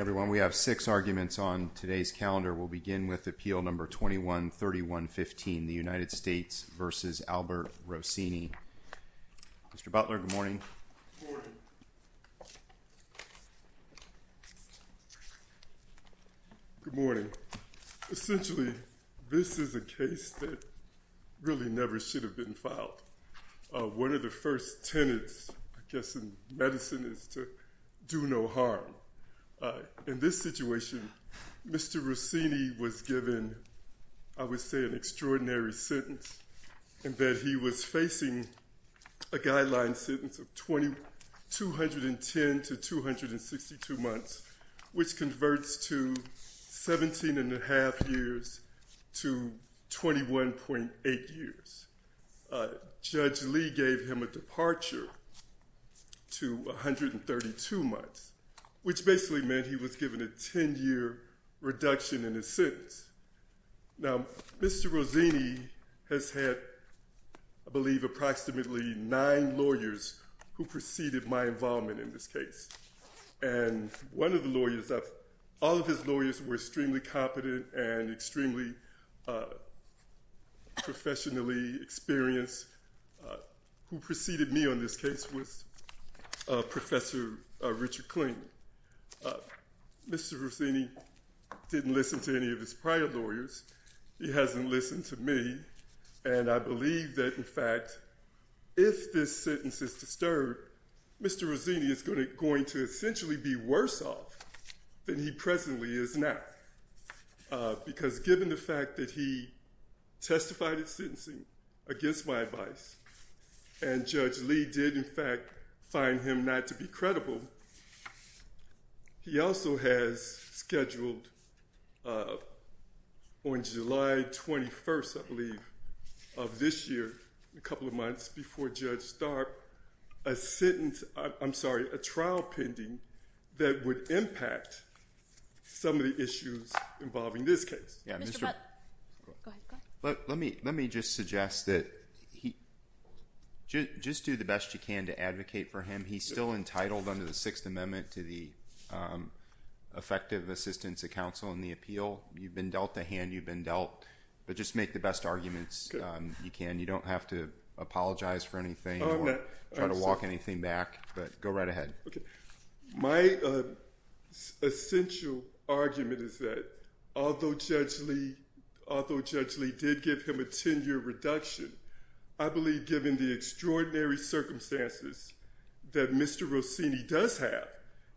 Everyone, we have six arguments on today's calendar. We'll begin with Appeal No. 21-3115, the United States v. Albert Rossini. Mr. Butler, good morning. Good morning. Essentially, this is a case that really never should have been filed. One of the first tenets, I guess, in medicine is to do no harm. In this situation, Mr. Rossini was given, I would say, an extraordinary sentence, in that he was facing a guideline sentence of 210 to 262 months, which converts to 17.5 years to 21.8 years. Judge Lee gave him a departure to 132 months, which basically meant he was given a ten-year reduction in his sentence. Now, Mr. Rossini has had, I believe, approximately nine lawyers who preceded my involvement in this case. And one of the lawyers, all of his lawyers were extremely competent and extremely professionally experienced. Who preceded me on this case was Professor Richard Klingman. Mr. Rossini didn't listen to any of his prior lawyers. He hasn't listened to me. And I believe that, in fact, if this sentence is disturbed, Mr. Rossini is going to essentially be worse off than he presently is now. Because given the fact that he testified in sentencing against my advice and Judge Lee did, in fact, find him not to be credible, he also has scheduled on July 21st, I believe, of this year, a couple of months before Judge Starb, a trial pending that would impact some of the issues involving this case. Mr. Butt, go ahead. Let me just suggest that just do the best you can to advocate for him. He's still entitled under the Sixth Amendment to the effective assistance of counsel in the appeal. You've been dealt a hand. You've been dealt. But just make the best arguments you can. You don't have to apologize for anything or try to walk anything back, but go right ahead. My essential argument is that although Judge Lee did give him a 10-year reduction, I believe given the extraordinary circumstances that Mr. Rossini does have,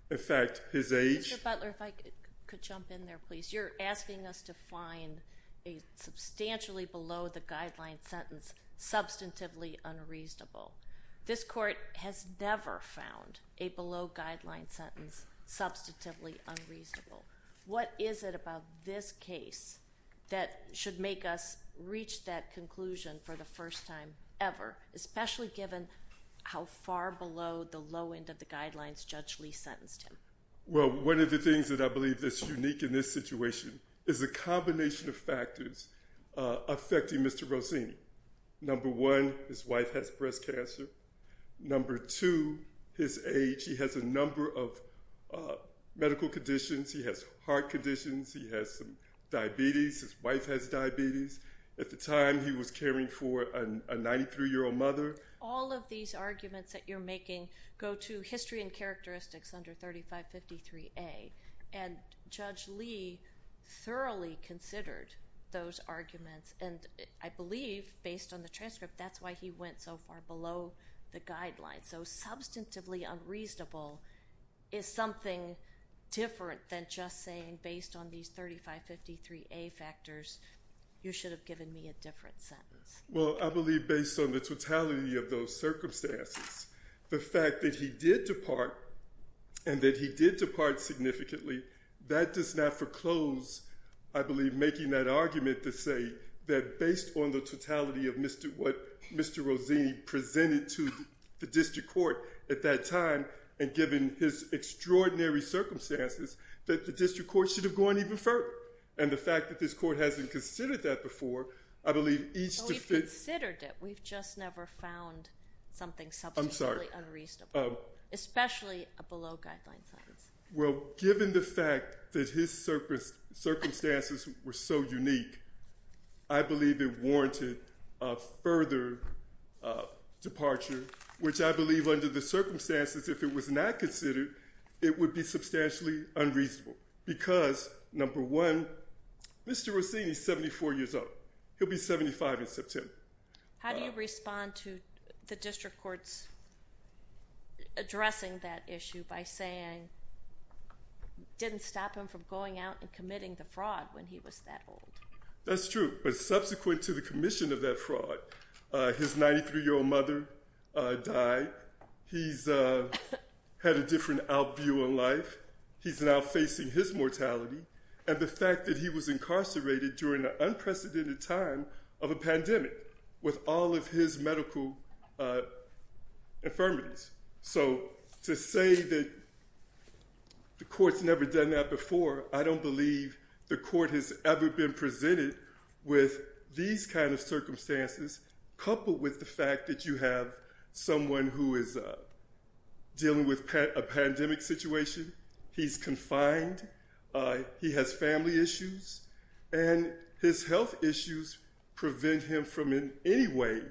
in fact, his age— Mr. Butler, if I could jump in there, please. You're asking us to find a substantially below-the-guideline sentence substantively unreasonable. This Court has never found a below-guideline sentence substantively unreasonable. What is it about this case that should make us reach that conclusion for the first time ever, especially given how far below the low end of the guidelines Judge Lee sentenced him? Well, one of the things that I believe that's unique in this situation is the combination of factors affecting Mr. Rossini. Number one, his wife has breast cancer. Number two, his age. He has a number of medical conditions. He has heart conditions. He has some diabetes. His wife has diabetes. At the time, he was caring for a 93-year-old mother. All of these arguments that you're making go to history and characteristics under 3553A, and Judge Lee thoroughly considered those arguments. And I believe, based on the transcript, that's why he went so far below the guidelines. So substantively unreasonable is something different than just saying, based on these 3553A factors, you should have given me a different sentence. Well, I believe based on the totality of those circumstances, the fact that he did depart and that he did depart significantly, that does not foreclose, I believe, making that argument to say that, based on the totality of what Mr. Rossini presented to the district court at that time and given his extraordinary circumstances, that the district court should have gone even further. And the fact that this court hasn't considered that before, I believe each defendant— I'm sorry. Especially a below-guideline sentence. Well, given the fact that his circumstances were so unique, I believe it warranted a further departure, which I believe under the circumstances, if it was not considered, it would be substantially unreasonable. Because, number one, Mr. Rossini is 74 years old. He'll be 75 in September. How do you respond to the district court's addressing that issue by saying it didn't stop him from going out and committing the fraud when he was that old? That's true. But subsequent to the commission of that fraud, his 93-year-old mother died. He's had a different out-view in life. He's now facing his mortality. And the fact that he was incarcerated during an unprecedented time of a pandemic with all of his medical infirmities. So to say that the court's never done that before, I don't believe the court has ever been presented with these kind of circumstances, coupled with the fact that you have someone who is dealing with a pandemic situation. He's confined. He has family issues. And his health issues prevent him from in any way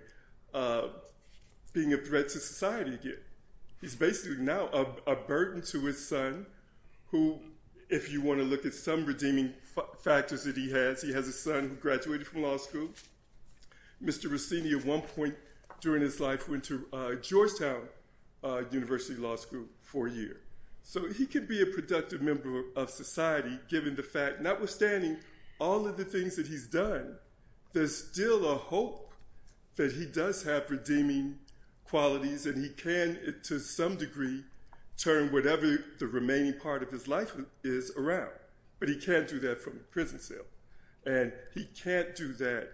being a threat to society again. He's basically now a burden to his son, who, if you want to look at some redeeming factors that he has, he has a son who graduated from law school. Mr. Rossini at one point during his life went to Georgetown University Law School for a year. So he could be a productive member of society, given the fact, notwithstanding all of the things that he's done, there's still a hope that he does have redeeming qualities and he can, to some degree, turn whatever the remaining part of his life is around. But he can't do that from a prison cell. And he can't do that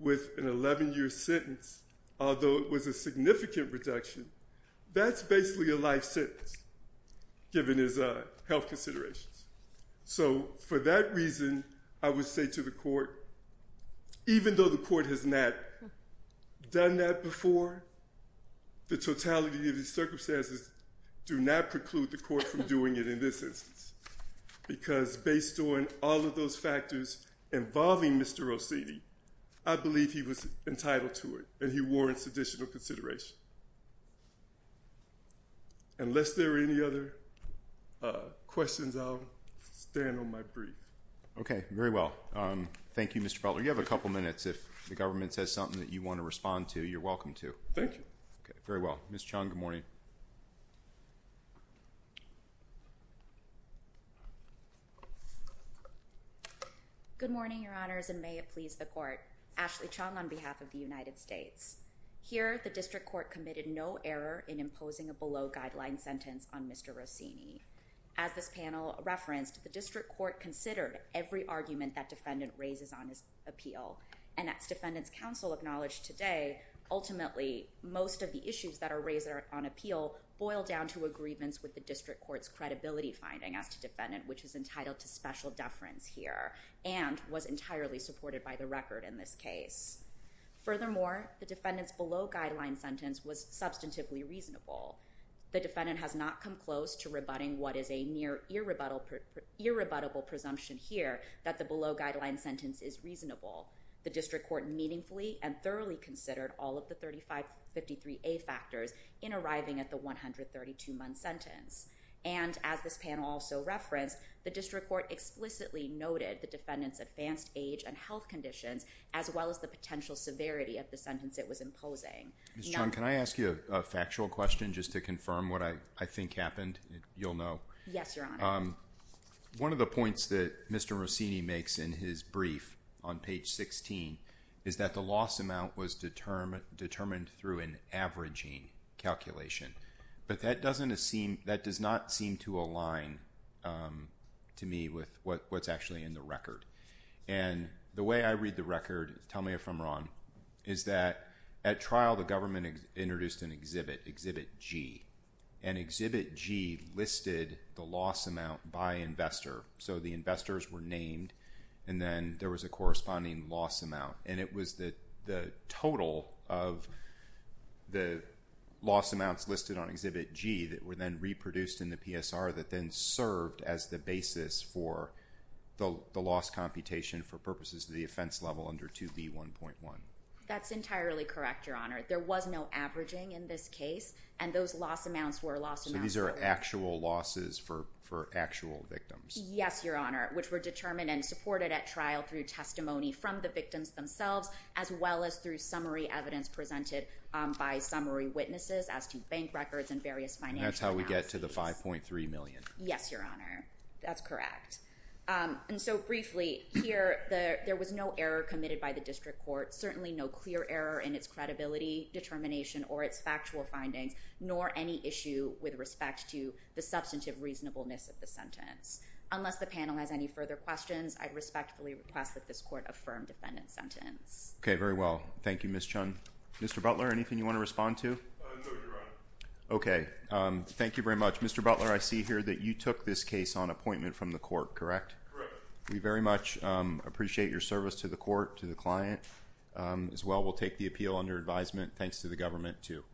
with an 11-year sentence, although it was a significant reduction. That's basically a life sentence, given his health considerations. So for that reason, I would say to the court, even though the court has not done that before, the totality of the circumstances do not preclude the court from doing it in this instance, because based on all of those factors involving Mr. Rossini, I believe he was entitled to it and he warrants additional consideration. Unless there are any other questions, I'll stand on my brief. Okay, very well. Thank you, Mr. Butler. You have a couple minutes if the government says something that you want to respond to, you're welcome to. Thank you. Okay, very well. Ms. Chung, good morning. Good morning, Your Honors, and may it please the court. Ashley Chung on behalf of the United States. Here, the District Court committed no error in imposing a below-guideline sentence on Mr. Rossini. As this panel referenced, the District Court considered every argument that defendant raises on his appeal, and as Defendant's Counsel acknowledged today, ultimately most of the issues that are raised on appeal boil down to a grievance with the District Court's credibility finding as to defendant, which is entitled to special deference here, and was entirely supported by the record in this case. Furthermore, the defendant's below-guideline sentence was substantively reasonable. The defendant has not come close to rebutting what is a near irrebuttable presumption here, that the below-guideline sentence is reasonable. The District Court meaningfully and thoroughly considered all of the 3553A factors in arriving at the 132-month sentence, and as this panel also referenced, the District Court explicitly noted the defendant's advanced age and health conditions as well as the potential severity of the sentence it was imposing. Ms. Chung, can I ask you a factual question just to confirm what I think happened? You'll know. Yes, Your Honor. One of the points that Mr. Rossini makes in his brief on page 16 is that the loss amount was determined through an averaging calculation, but that does not seem to align to me with what's actually in the record. And the way I read the record, tell me if I'm wrong, is that at trial the government introduced an exhibit, Exhibit G, and Exhibit G listed the loss amount by investor. So the investors were named, and then there was a corresponding loss amount, and it was the total of the loss amounts listed on Exhibit G that were then reproduced in the PSR that then served as the basis for the loss computation for purposes of the offense level under 2B1.1. That's entirely correct, Your Honor. There was no averaging in this case, and those loss amounts were loss amounts. So these are actual losses for actual victims. Yes, Your Honor, which were determined and supported at trial through testimony from the victims themselves as well as through summary evidence presented by summary witnesses as to bank records and various financial accounts. And that's how we get to the $5.3 million. Yes, Your Honor. That's correct. And so briefly, here there was no error committed by the district court, certainly no clear error in its credibility determination or its factual findings, nor any issue with respect to the substantive reasonableness of the sentence. Unless the panel has any further questions, I respectfully request that this court affirm defendant's sentence. Okay, very well. Thank you, Ms. Chun. Mr. Butler, anything you want to respond to? No, Your Honor. Okay. Thank you very much. Mr. Butler, I see here that you took this case on appointment from the court, correct? Correct. We very much appreciate your service to the court, to the client as well. We'll take the appeal under advisement thanks to the government too.